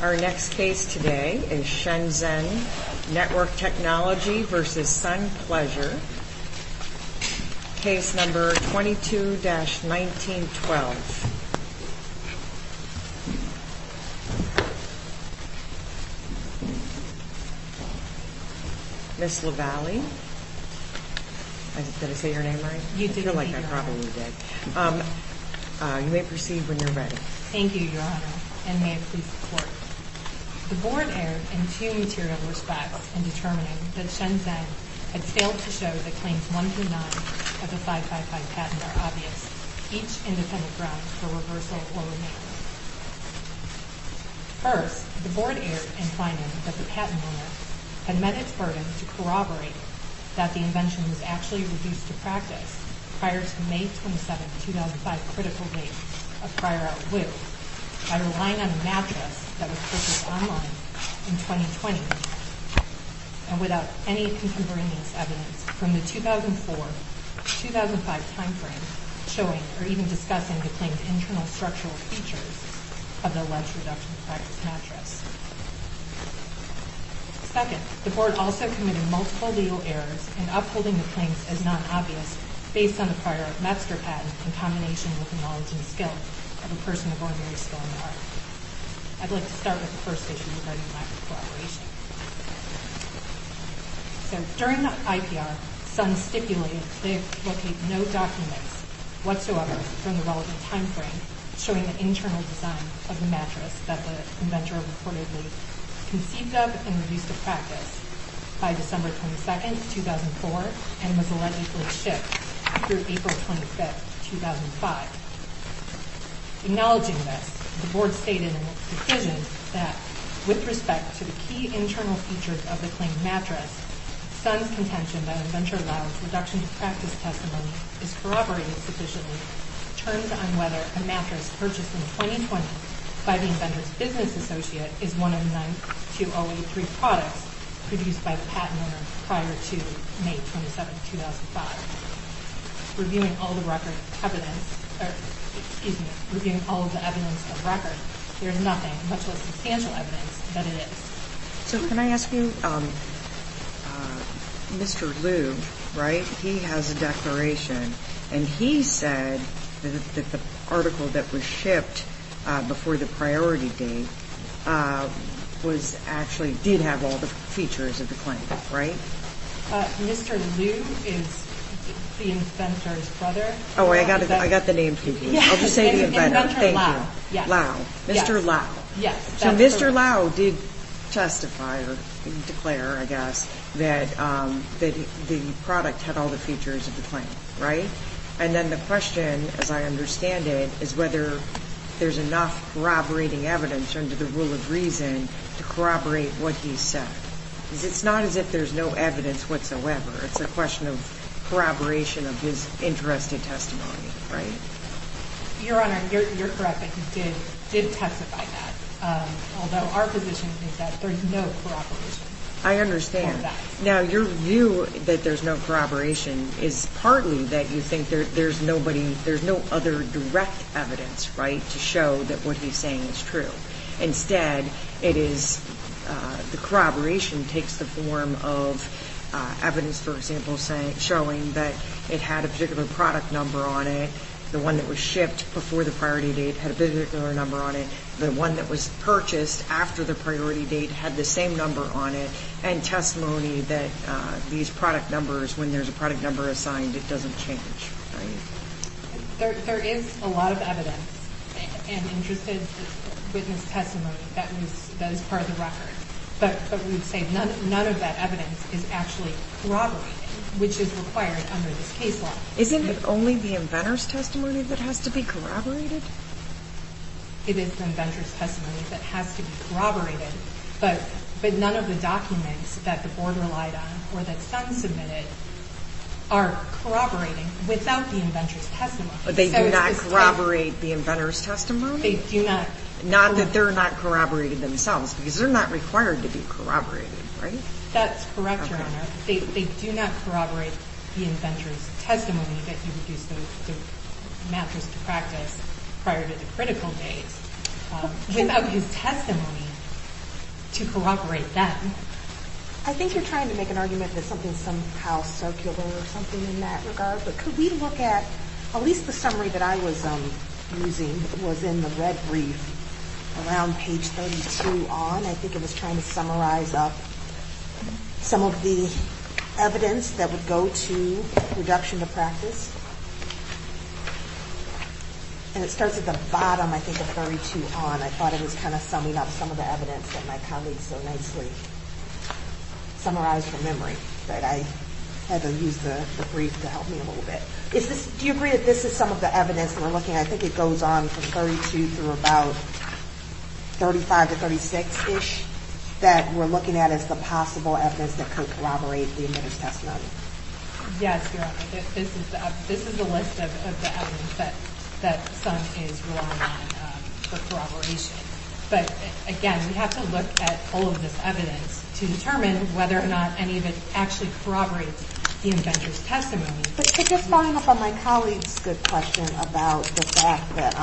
Our next case today is Shenzhen Network Technology v. Sun Pleasure, Case No. 22-1912. Ms. Lavallee. Did I say your name right? You did. I feel like I probably did. You may proceed when you're ready. Thank you, Your Honor, and may it please the Court. The Board erred in two material respects in determining that Shenzhen had failed to show that claims 1 through 9 of the 555 patent are obvious, each independent ground for reversal or renewal. First, the Board erred in finding that the patent owner had met its burden to corroborate that the invention was actually reduced to practice prior to May 27, 2005, critical date of prior outlook by relying on a mattress that was purchased online in 2020 and without any contemporaneous evidence from the 2004-2005 timeframe showing or even discussing the claims' internal structural features of the alleged reduction to practice mattress. Second, the Board also committed multiple legal errors in upholding the claims as non-obvious based on the prior master patent in combination with the knowledge and skill of a person of ordinary skill and art. I'd like to start with the first issue regarding lack of corroboration. During the IPR, Sun stipulated they locate no documents whatsoever from the relevant timeframe showing the internal design of the mattress that the inventor reportedly conceived of and reduced to practice by December 22, 2004 and was allegedly shipped through April 25, 2005. Acknowledging this, the Board stated in its decision that, with respect to the key internal features of the claimed mattress, Sun's contention that Inventor Lau's reduction to practice testimony is corroborated sufficiently turns on whether a mattress purchased in 2020 by the inventor's business associate is one of nine 2083 products produced by the patent owner prior to May 27, 2005. Reviewing all of the evidence on record, there is nothing, much less substantial evidence, that it is. So can I ask you, Mr. Liu, right, he has a declaration and he said that the article that was shipped before the priority date was actually, did have all the features of the claim, right? Mr. Liu is the inventor's brother. Oh, I got the name confused. I'll just say the inventor. Inventor Lau. Mr. Lau. Yes. So Mr. Lau did testify or declare, I guess, that the product had all the features of the claim, right? And then the question, as I understand it, is whether there's enough corroborating evidence under the rule of reason to corroborate what he said. Because it's not as if there's no evidence whatsoever. It's a question of corroboration of his interest in testimony, right? Your Honor, you're correct that he did testify that, although our position is that there's no corroboration. I understand. Now, your view that there's no corroboration is partly that you think there's nobody, there's no other direct evidence, right, to show that what he's saying is true. Instead, it is the corroboration takes the form of evidence, for example, showing that it had a particular product number on it, the one that was shipped before the priority date had a particular number on it, the one that was purchased after the priority date had the same number on it, and testimony that these product numbers, when there's a product number assigned, it doesn't change, right? There is a lot of evidence and interested witness testimony that is part of the record. But we would say none of that evidence is actually corroborated, which is required under this case law. Isn't it only the inventor's testimony that has to be corroborated? It is the inventor's testimony that has to be corroborated. But none of the documents that the board relied on or that some submitted are corroborating without the inventor's testimony. But they do not corroborate the inventor's testimony? They do not. Not that they're not corroborated themselves, because they're not required to be corroborated, right? That's correct, Your Honor. They do not corroborate the inventor's testimony that he produced the mattress to practice prior to the critical date. Without his testimony to corroborate that. I think you're trying to make an argument that something is somehow circular or something in that regard, but could we look at at least the summary that I was using that was in the red brief around page 32 on? I think it was trying to summarize up some of the evidence that would go to reduction to practice. And it starts at the bottom, I think, of 32 on. I thought it was kind of summing up some of the evidence that my colleague so nicely summarized from memory. But I had to use the brief to help me a little bit. Do you agree that this is some of the evidence we're looking at? I think it goes on from 32 through about 35 to 36-ish that we're looking at as the possible evidence that could corroborate the inventor's testimony. Yes, Your Honor. This is the list of the evidence that Sun is relying on for corroboration. But, again, we have to look at all of this evidence to determine whether or not any of it actually corroborates the inventor's testimony. But to just follow up on my colleague's good question about the fact that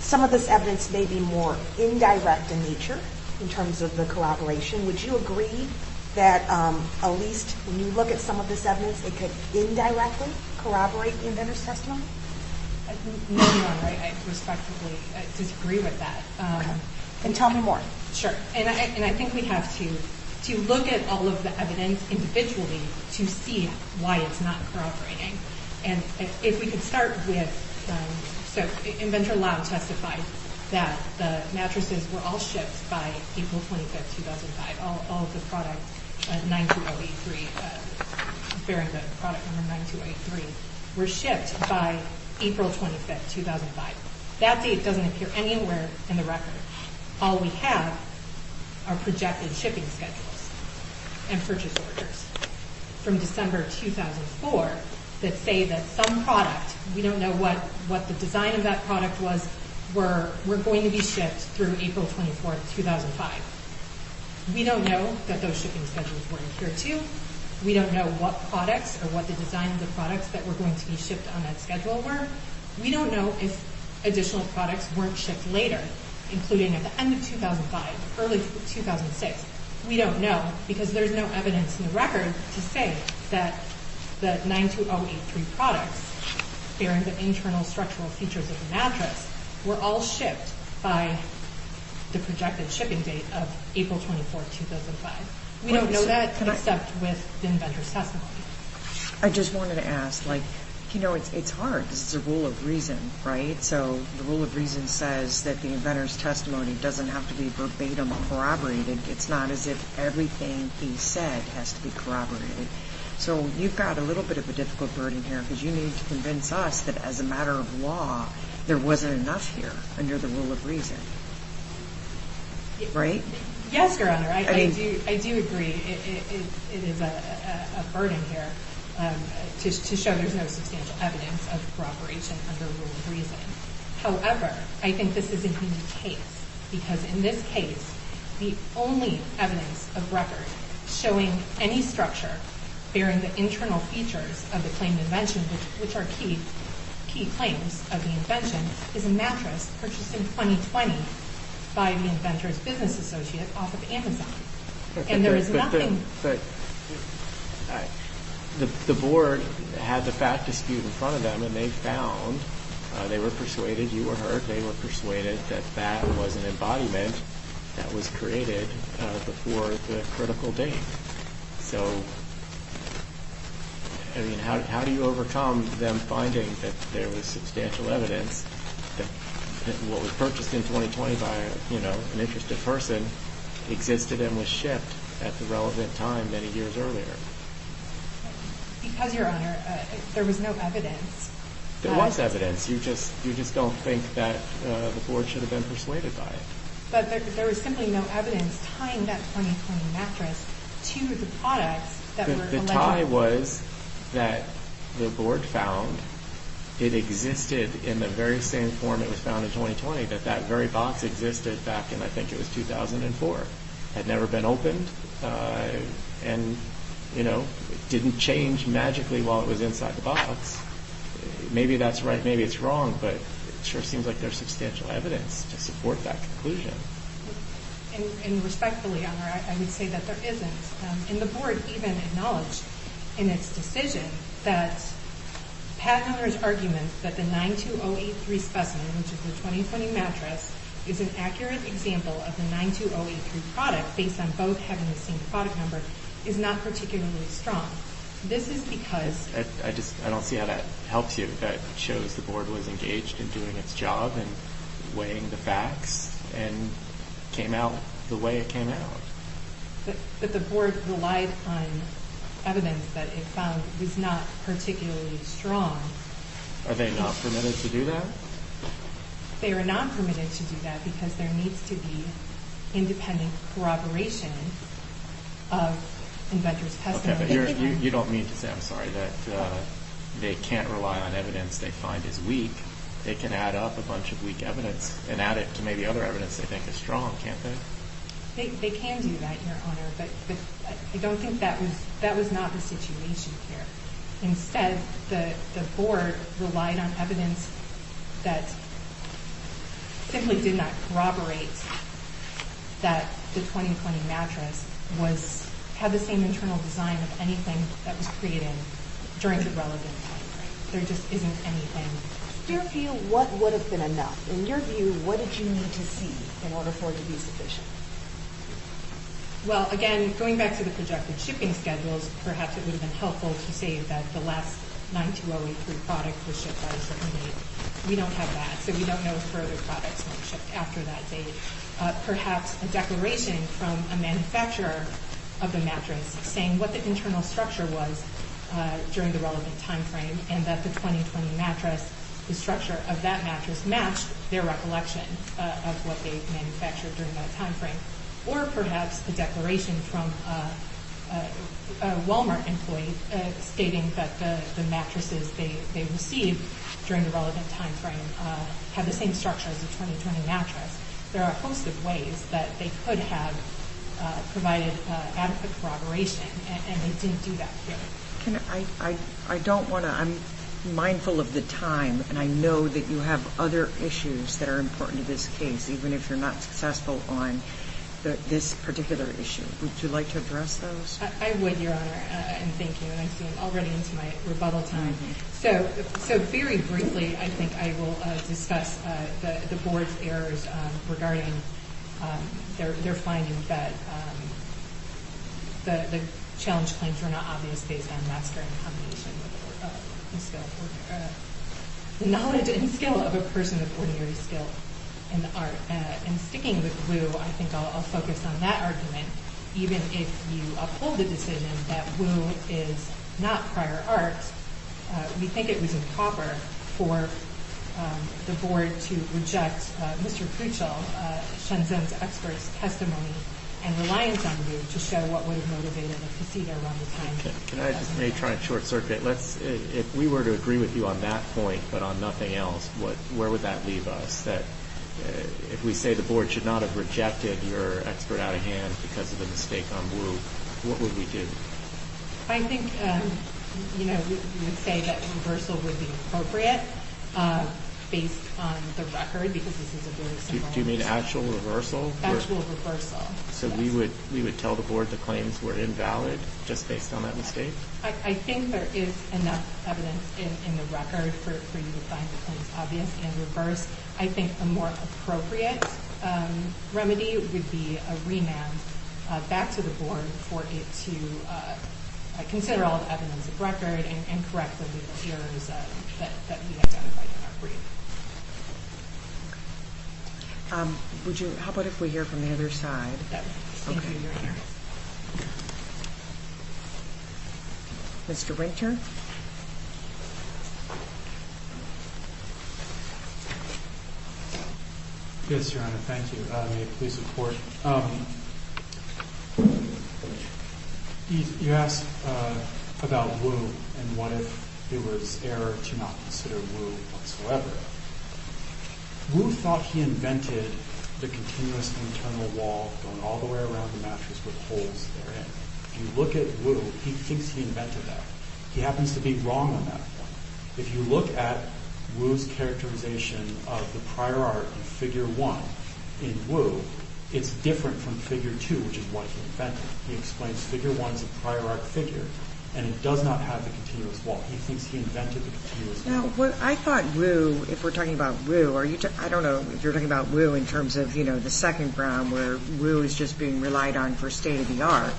some of this evidence may be more indirect in nature in terms of the corroboration, would you agree that at least when you look at some of this evidence, it could indirectly corroborate the inventor's testimony? No, Your Honor. I respectfully disagree with that. Okay. Then tell me more. Sure. And I think we have to look at all of the evidence individually to see why it's not corroborating. And if we could start with, so Inventor Lau testified that the mattresses were all shipped by April 25, 2005. All of the products, 92083, bearing the product number 92083, were shipped by April 25, 2005. That date doesn't appear anywhere in the record. All we have are projected shipping schedules and purchase orders. From December 2004 that say that some product, we don't know what the design of that product was, were going to be shipped through April 24, 2005. We don't know that those shipping schedules were adhered to. We don't know what products or what the design of the products that were going to be shipped on that schedule were. We don't know if additional products weren't shipped later, including at the end of 2005, early 2006. We don't know because there's no evidence in the record to say that the 92083 products, bearing the internal structural features of the mattress, were all shipped by the projected shipping date of April 24, 2005. We don't know that except with the inventor's testimony. I just wanted to ask, like, you know, it's hard because it's a rule of reason, right? So the rule of reason says that the inventor's testimony doesn't have to be verbatim corroborated. It's not as if everything he said has to be corroborated. So you've got a little bit of a difficult burden here because you need to convince us that as a matter of law, there wasn't enough here under the rule of reason, right? Yes, Your Honor. I do agree. It is a burden here to show there's no substantial evidence of corroboration under the rule of reason. However, I think this is a unique case because in this case, the only evidence of record showing any structure bearing the internal features of the claimed invention, which are key claims of the invention, is a mattress purchased in 2020 by the inventor's business associate off of Amazon. And there is nothing. The board had the fact dispute in front of them, and they found, they were persuaded, you were heard, they were persuaded that that was an embodiment that was created before the critical date. So, I mean, how do you overcome them finding that there was substantial evidence that what was purchased in 2020 by, you know, an interested person existed and was shipped at the relevant time many years earlier? Because, Your Honor, there was no evidence. There was evidence. You just don't think that the board should have been persuaded by it. But there was simply no evidence tying that 2020 mattress to the products that were alleged. The tie was that the board found it existed in the very same form it was found in 2020, that that very box existed back in, I think it was 2004, had never been opened. And, you know, it didn't change magically while it was inside the box. Maybe that's right. Maybe it's wrong. But it sure seems like there's substantial evidence to support that conclusion. And respectfully, Your Honor, I would say that there isn't. And the board even acknowledged in its decision that Pat Hunter's argument that the 92083 specimen, which is the 2020 mattress, is an accurate example of the 92083 product, based on both having the same product number, is not particularly strong. This is because— I just—I don't see how that helps you. That shows the board was engaged in doing its job and weighing the facts and came out the way it came out. But the board relied on evidence that it found was not particularly strong. Are they not permitted to do that? They are not permitted to do that because there needs to be independent corroboration of inventor's testimony. Okay, but you don't mean to say—I'm sorry—that they can't rely on evidence they find is weak. They can add up a bunch of weak evidence and add it to maybe other evidence they think is strong, can't they? They can do that, Your Honor, but I don't think that was—that was not the situation here. Instead, the board relied on evidence that simply did not corroborate that the 2020 mattress was— had the same internal design of anything that was created during the relevant timeframe. There just isn't anything— In your view, what would have been enough? In your view, what did you need to see in order for it to be sufficient? Well, again, going back to the projected shipping schedules, perhaps it would have been helpful to say that the last 92083 product was shipped at a certain date. We don't have that, so we don't know if further products were shipped after that date. Perhaps a declaration from a manufacturer of the mattress saying what the internal structure was during the relevant timeframe and that the 2020 mattress—the structure of that mattress matched their recollection of what they manufactured during that timeframe. Or perhaps a declaration from a Walmart employee stating that the mattresses they received during the relevant timeframe had the same structure as the 2020 mattress. There are a host of ways that they could have provided adequate corroboration, and they didn't do that here. I don't want to—I'm mindful of the time, and I know that you have other issues that are important to this case, even if you're not successful on this particular issue. Would you like to address those? I would, Your Honor, and thank you. And I see I'm already into my rebuttal time. So very briefly, I think I will discuss the Board's errors regarding their finding that the challenge claims were not obvious based on mastery in combination with the knowledge and skill of a person with ordinary skill in the art. And sticking with Wu, I think I'll focus on that argument. Even if you uphold the decision that Wu is not prior art, we think it was improper for the Board to reject Mr. Kuchel, Shenzhen's expert's testimony, and reliance on Wu to show what would have motivated a procedure around this timeframe. Can I just make a short circuit? If we were to agree with you on that point but on nothing else, where would that leave us? If we say the Board should not have rejected your expert out of hand because of a mistake on Wu, what would we do? I think we would say that reversal would be appropriate based on the record because this is a very similar case. Do you mean actual reversal? Actual reversal, yes. So we would tell the Board the claims were invalid just based on that mistake? I think there is enough evidence in the record for you to find the claims obvious and reverse. I think a more appropriate remedy would be a remand back to the Board for it to consider all the evidence of record and correct the legal errors that we identified in our brief. How about if we hear from the other side? Mr. Ranker? Yes, Your Honor. Thank you. May it please the Court? You asked about Wu and what if it was error to not consider Wu whatsoever. Wu thought he invented the continuous internal wall going all the way around the mattress with holes therein. If you look at Wu, he thinks he invented that. He happens to be wrong on that point. If you look at Wu's characterization of the prior art in Figure 1 in Wu, it's different from Figure 2, which is what he invented. He explains Figure 1 is a prior art figure and it does not have the continuous wall. He thinks he invented the continuous wall. I thought Wu, if we're talking about Wu, I don't know if you're talking about Wu in terms of the second ground where Wu is just being relied on for state of the art,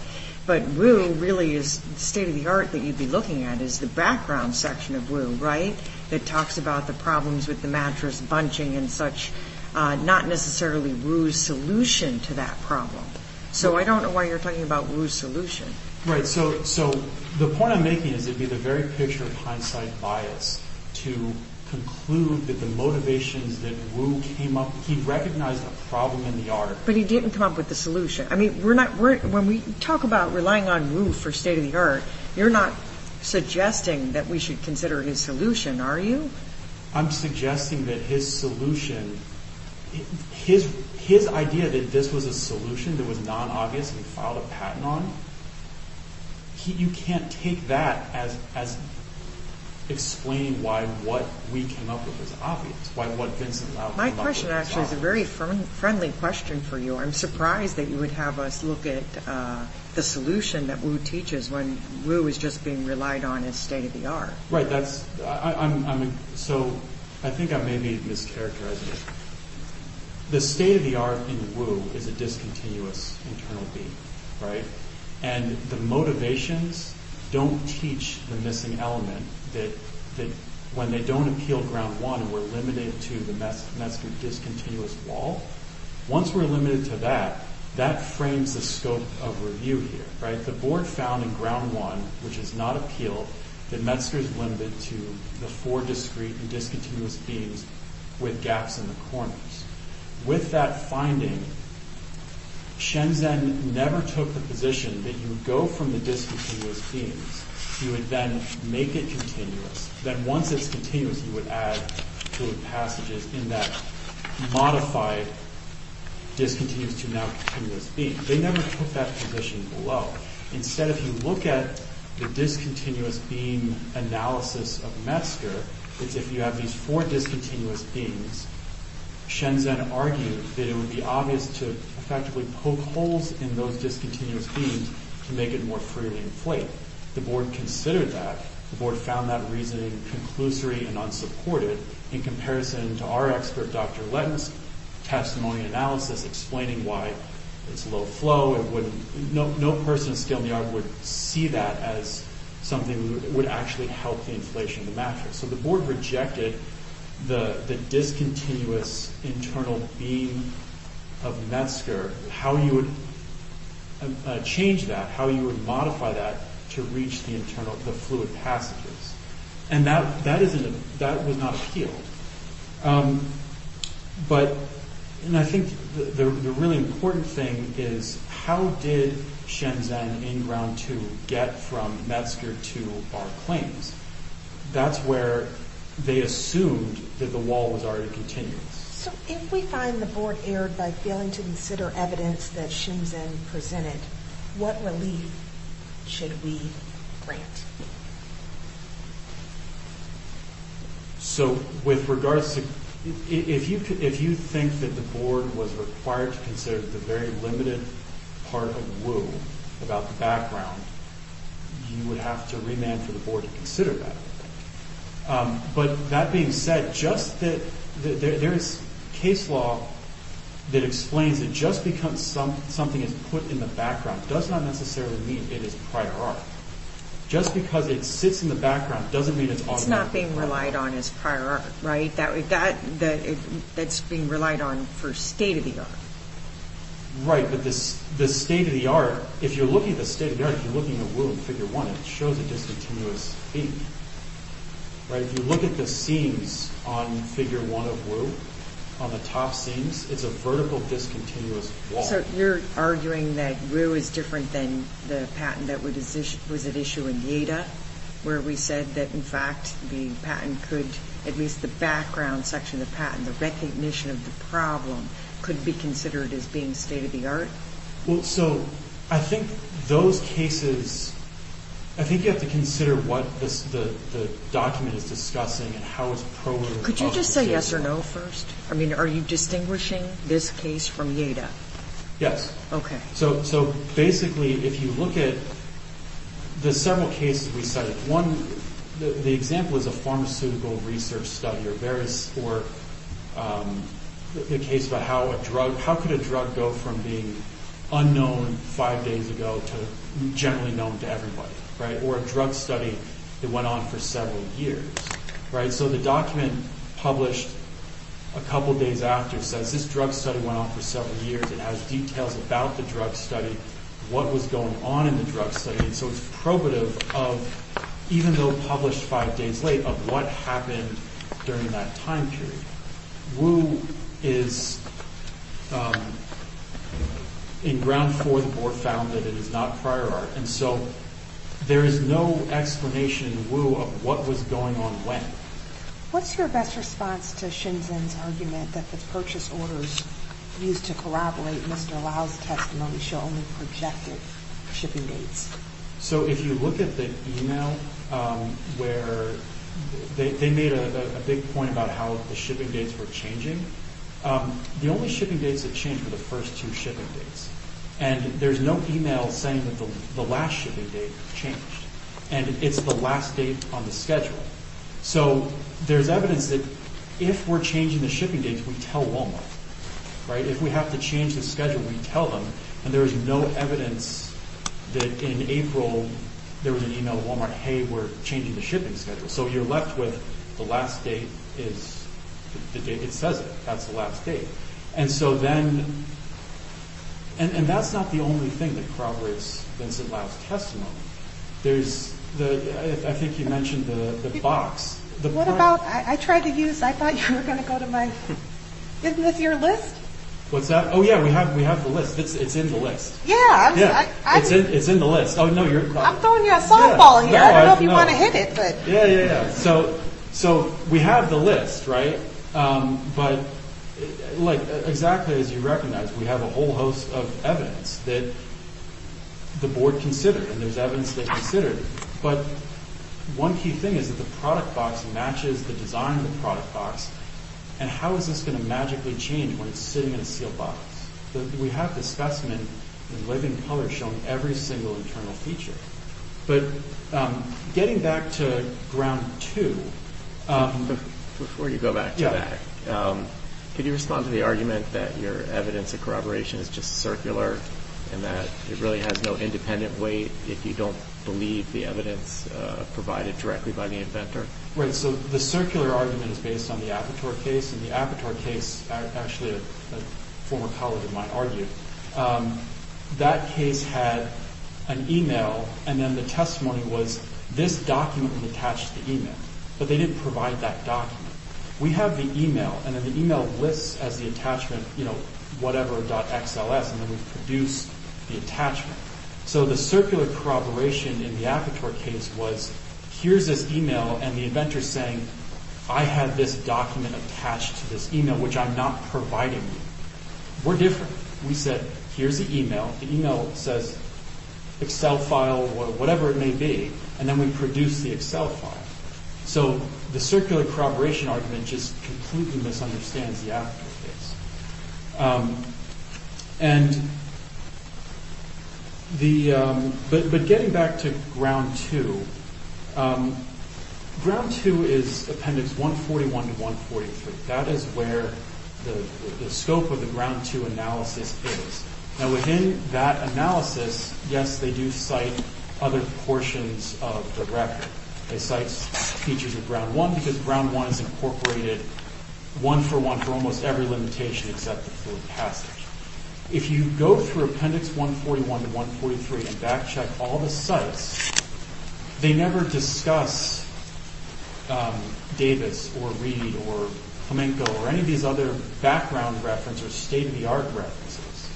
but Wu really is state of the art that you'd be looking at is the background section of Wu, right, that talks about the problems with the mattress bunching and such, not necessarily Wu's solution to that problem. So I don't know why you're talking about Wu's solution. Right. So the point I'm making is it would be the very picture of hindsight bias to conclude that the motivations that Wu came up with, he recognized a problem in the article. But he didn't come up with the solution. I mean, when we talk about relying on Wu for state of the art, you're not suggesting that we should consider his solution, are you? I'm suggesting that his solution, his idea that this was a solution that was non-obvious and he filed a patent on, you can't take that as explaining why what we came up with was obvious, why what Vincent Lau came up with was obvious. My question actually is a very friendly question for you. I'm surprised that you would have us look at the solution that Wu teaches when Wu is just being relied on as state of the art. Right. So I think I may be mischaracterizing it. The state of the art in Wu is a discontinuous internal being, right? And the motivations don't teach the missing element that when they don't appeal ground one, we're limited to the Metzger discontinuous wall. Once we're limited to that, that frames the scope of review here. Right. The board found in ground one, which is not appeal, that Metzger is limited to the four discreet and discontinuous themes with gaps in the corners. With that finding, Shenzhen never took the position that you go from the discontinuous themes, you would then make it continuous. Then once it's continuous, you would add passages in that modified discontinuous to now continuous being. They never put that position below. Instead, if you look at the discontinuous being analysis of Metzger, it's if you have these four discontinuous themes, Shenzhen argued that it would be obvious to effectively poke holes in those discontinuous themes to make it more freely inflate. The board considered that. The board found that reasoning conclusory and unsupported in comparison to our expert, Dr. Lentz, testimony analysis explaining why it's low flow. No person of skill in the art would see that as something that would actually help the inflation of the mattress. So the board rejected the discontinuous internal being of Metzger, how you would change that, how you would modify that to reach the fluid passages. That was not appealed. I think the really important thing is how did Shenzhen in round two get from Metzger to our claims? That's where they assumed that the wall was already continuous. So if we find the board erred by failing to consider evidence that Shenzhen presented, what relief should we grant? So with regards to, if you think that the board was required to consider the very limited part of Wu about the background, you would have to remand for the board to consider that. But that being said, just that there is case law that explains that just because something is put in the background does not necessarily mean it is prior art. Just because it sits in the background doesn't mean it's automatic. It's not being relied on as prior art, right? That's being relied on for state of the art. Right, but the state of the art, if you're looking at the state of the art, if you're looking at Wu in figure one, it shows a discontinuous beam, right? If you look at the seams on figure one of Wu, on the top seams, it's a vertical discontinuous wall. So you're arguing that Wu is different than the patent that was at issue in Yeida, where we said that in fact the patent could, at least the background section of the patent, the recognition of the problem could be considered as being state of the art? Well, so I think those cases, I think you have to consider what the document is discussing and how it's probably associated with that. Could you just say yes or no first? I mean, are you distinguishing this case from Yeida? Yes. Okay. So basically, if you look at the several cases we cited, one, the example is a pharmaceutical research study or the case about how a drug, how could a drug go from being unknown five days ago to generally known to everybody, right? Or a drug study that went on for several years, right? So the document published a couple days after says this drug study went on for several years. It has details about the drug study, what was going on in the drug study. So it's probative of, even though published five days late, of what happened during that time period. Wu is in ground for or found that it is not prior art. And so there is no explanation, Wu, of what was going on when. What's your best response to Shinzen's argument that the purchase orders used to corroborate Mr. Lau's testimony show only projected shipping dates? So if you look at the email where they made a big point about how the shipping dates were changing, the only shipping dates that changed were the first two shipping dates. And there's no email saying that the last shipping date changed. And it's the last date on the schedule. So there's evidence that if we're changing the shipping dates, we tell Walmart, right? If we have to change the schedule, we tell them. And there's no evidence that in April there was an email at Walmart, hey, we're changing the shipping schedule. So you're left with the last date is the date it says it. That's the last date. And so then, and that's not the only thing that corroborates Vincent Lau's testimony. There's, I think you mentioned the box. What about, I tried to use, I thought you were going to go to my, isn't this your list? What's that? Oh, yeah, we have the list. It's in the list. Yeah. It's in the list. Oh, no, you're. I'm throwing you a softball here. I don't know if you want to hit it, but. Yeah, yeah, yeah. So we have the list, right? But like exactly as you recognize, we have a whole host of evidence that the board considered. And there's evidence they considered. But one key thing is that the product box matches the design of the product box. And how is this going to magically change when it's sitting in a sealed box? We have the specimen in living color showing every single internal feature. But getting back to ground two. Before you go back to that. Could you respond to the argument that your evidence of corroboration is just circular and that it really has no independent weight if you don't believe the evidence provided directly by the inventor? Right. So the circular argument is based on the Aperture case. And the Aperture case, actually a former colleague of mine argued, that case had an e-mail. And then the testimony was this document attached to the e-mail. But they didn't provide that document. We have the e-mail. And then the e-mail lists as the attachment, you know, whatever.xls. And then we produce the attachment. So the circular corroboration in the Aperture case was, here's this e-mail. And the inventor is saying, I have this document attached to this e-mail, which I'm not providing you. We're different. We said, here's the e-mail. The e-mail says, Excel file, whatever it may be. And then we produce the Excel file. So the circular corroboration argument just completely misunderstands the Aperture case. And the ‑‑ but getting back to Ground 2, Ground 2 is Appendix 141 to 143. That is where the scope of the Ground 2 analysis is. Now, within that analysis, yes, they do cite other portions of the record. They cite features of Ground 1 because Ground 1 is incorporated one for one for almost every limitation except for passage. If you go through Appendix 141 to 143 and back check all the cites, they never discuss Davis or Reed or Plamenco or any of these other background references or state‑of‑the‑art references.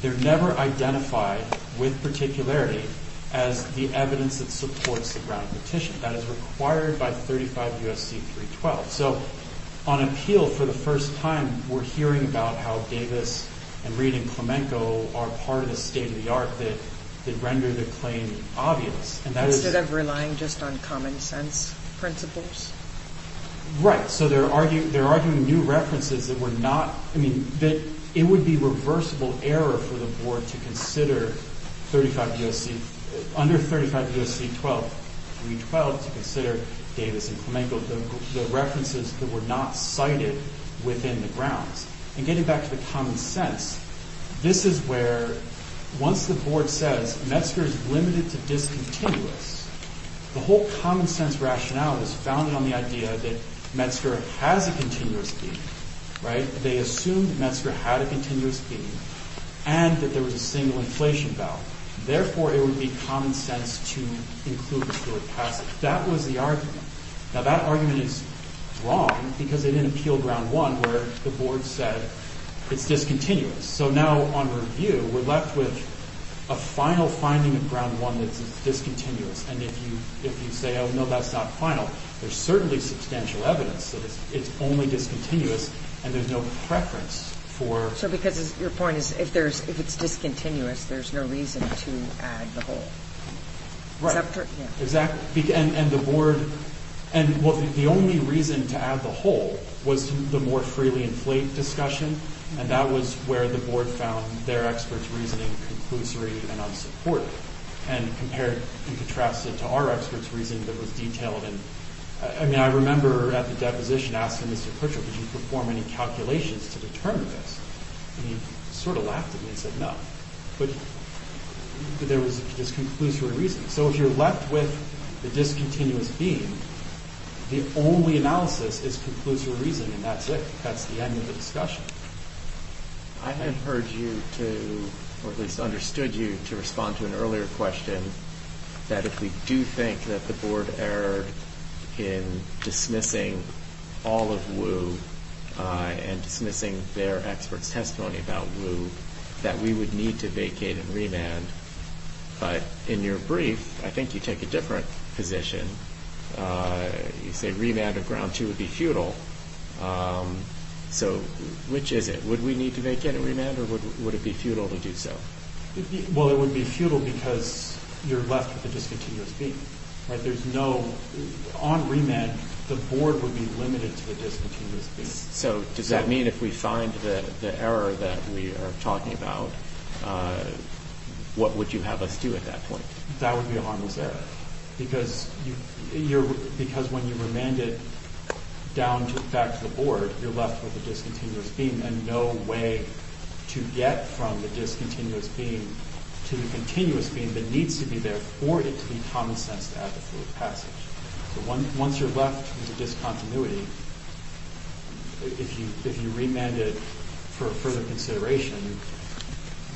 They're never identified with particularity as the evidence that supports the ground petition. That is required by 35 U.S.C. 312. So on appeal for the first time, we're hearing about how Davis and Reed and Plamenco are part of the state‑of‑the‑art that render the claim obvious. And that is ‑‑ Instead of relying just on common sense principles? Right. So they're arguing new references that were not ‑‑ I mean, it would be reversible error for the board to consider 35 U.S.C. Under 35 U.S.C. 312 to consider Davis and Plamenco, the references that were not cited within the grounds. And getting back to the common sense, this is where once the board says Metzger is limited to discontinuous, the whole common sense rationale is founded on the idea that Metzger has a continuous fee. Right? They assume that Metzger had a continuous fee and that there was a single inflation ballot. Therefore, it would be common sense to include the third passage. That was the argument. Now, that argument is wrong because they didn't appeal ground one where the board said it's discontinuous. So now on review, we're left with a final finding of ground one that's discontinuous. And if you say, oh, no, that's not final, there's certainly substantial evidence that it's only discontinuous and there's no preference for ‑‑ So because your point is if it's discontinuous, there's no reason to add the whole. Right. Exactly. And the board ‑‑ and the only reason to add the whole was the more freely inflate discussion. And that was where the board found their expert's reasoning conclusory and unsupported and compared and contrasted to our expert's reasoning that was detailed. And, I mean, I remember at the deposition asking Mr. Pritchard, did you perform any calculations to determine this? And he sort of laughed at me and said, no. But there was just conclusory reasoning. So if you're left with the discontinuous being, the only analysis is conclusory reasoning. That's it. That's the end of the discussion. I have heard you to, or at least understood you to respond to an earlier question that if we do think that the board erred in dismissing all of Wu and dismissing their expert's testimony about Wu, that we would need to vacate and remand. But in your brief, I think you take a different position. You say remand of ground two would be futile. So which is it? Would we need to vacate and remand or would it be futile to do so? Well, it would be futile because you're left with the discontinuous being. There's no ‑‑ on remand, the board would be limited to the discontinuous being. So does that mean if we find the error that we are talking about, what would you have us do at that point? That would be a harmless error. Because when you remand it down to the back of the board, you're left with a discontinuous being and no way to get from the discontinuous being to the continuous being that needs to be there for it to be common sense to add the third passage. Once you're left with a discontinuity, if you remand it for further consideration,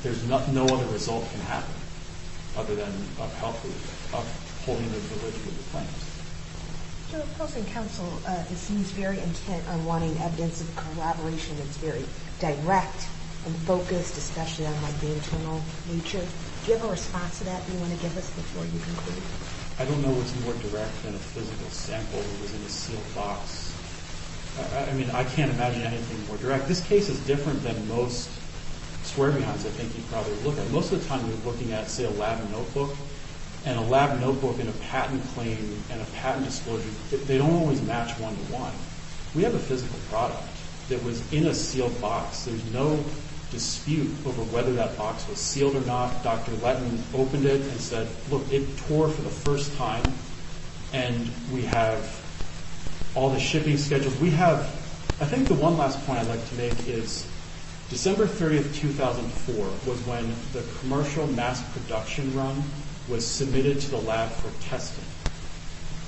there's no other result that can happen other than upholding the privilege of the plaintiffs. Your opposing counsel, it seems very intent on wanting evidence of collaboration. It's very direct and focused, especially on the internal nature. Do you have a response to that you want to give us before you conclude? I don't know what's more direct than a physical sample that was in a sealed box. I mean, I can't imagine anything more direct. This case is different than most swear-behinds I think you'd probably look at. Most of the time you're looking at, say, a lab notebook, and a lab notebook and a patent claim and a patent disclosure, they don't always match one-to-one. We have a physical product that was in a sealed box. There's no dispute over whether that box was sealed or not. Dr. Letton opened it and said, look, it tore for the first time, and we have all the shipping schedules. I think the one last point I'd like to make is December 30, 2004, was when the commercial mass production run was submitted to the lab for testing.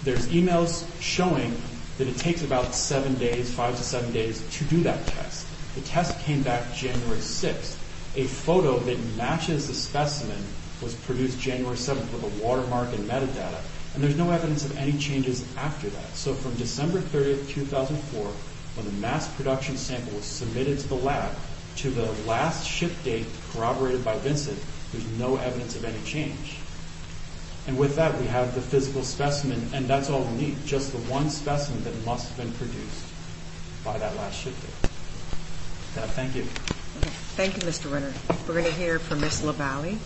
There's e-mails showing that it takes about seven days, five to seven days, to do that test. The test came back January 6th. A photo that matches the specimen was produced January 7th with a watermark and metadata, and there's no evidence of any changes after that. So from December 30, 2004, when the mass production sample was submitted to the lab, to the last ship date corroborated by Vincent, there's no evidence of any change. And with that, we have the physical specimen, and that's all unique, just the one specimen that must have been produced by that last ship date. Thank you. Thank you, Mr. Renner. We're going to hear from Ms. Lavallee.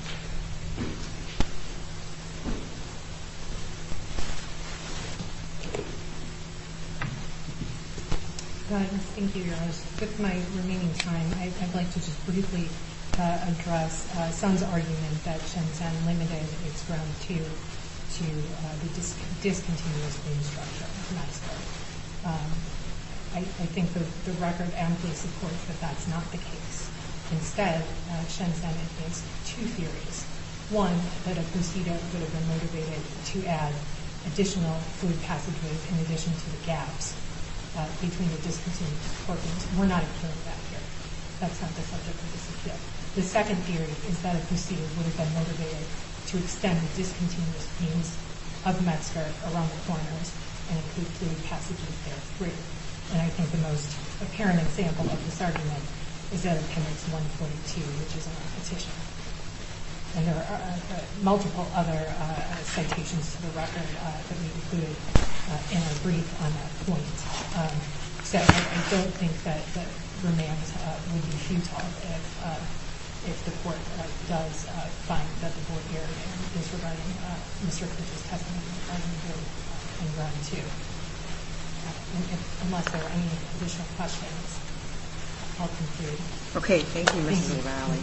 Thank you, Your Honor. With my remaining time, I'd like to just briefly address Sun's argument that Shenzhen limited its ground to the discontinuous beam structure. I think the record amply supports that that's not the case. Instead, Shenzhen has two theories. One, that a CUSIDA would have been motivated to add additional fluid passageways in addition to the gaps between the discontinuous cork beams. We're not occurring that here. That's not the subject of this issue. The second theory is that a CUSIDA would have been motivated to extend discontinuous beams of METSCART around the corners and include fluid passageways there free. And I think the most apparent example of this argument is in Appendix 1.2, which is in our petition. And there are multiple other citations to the record that we included in our brief on that point. So I don't think that the remand would be futile if the court does find that the board unless there are any additional questions. I'll conclude. Okay. Thank you, Mrs. O'Reilly.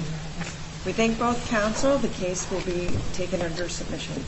We thank both counsel. The case will be taken under submission.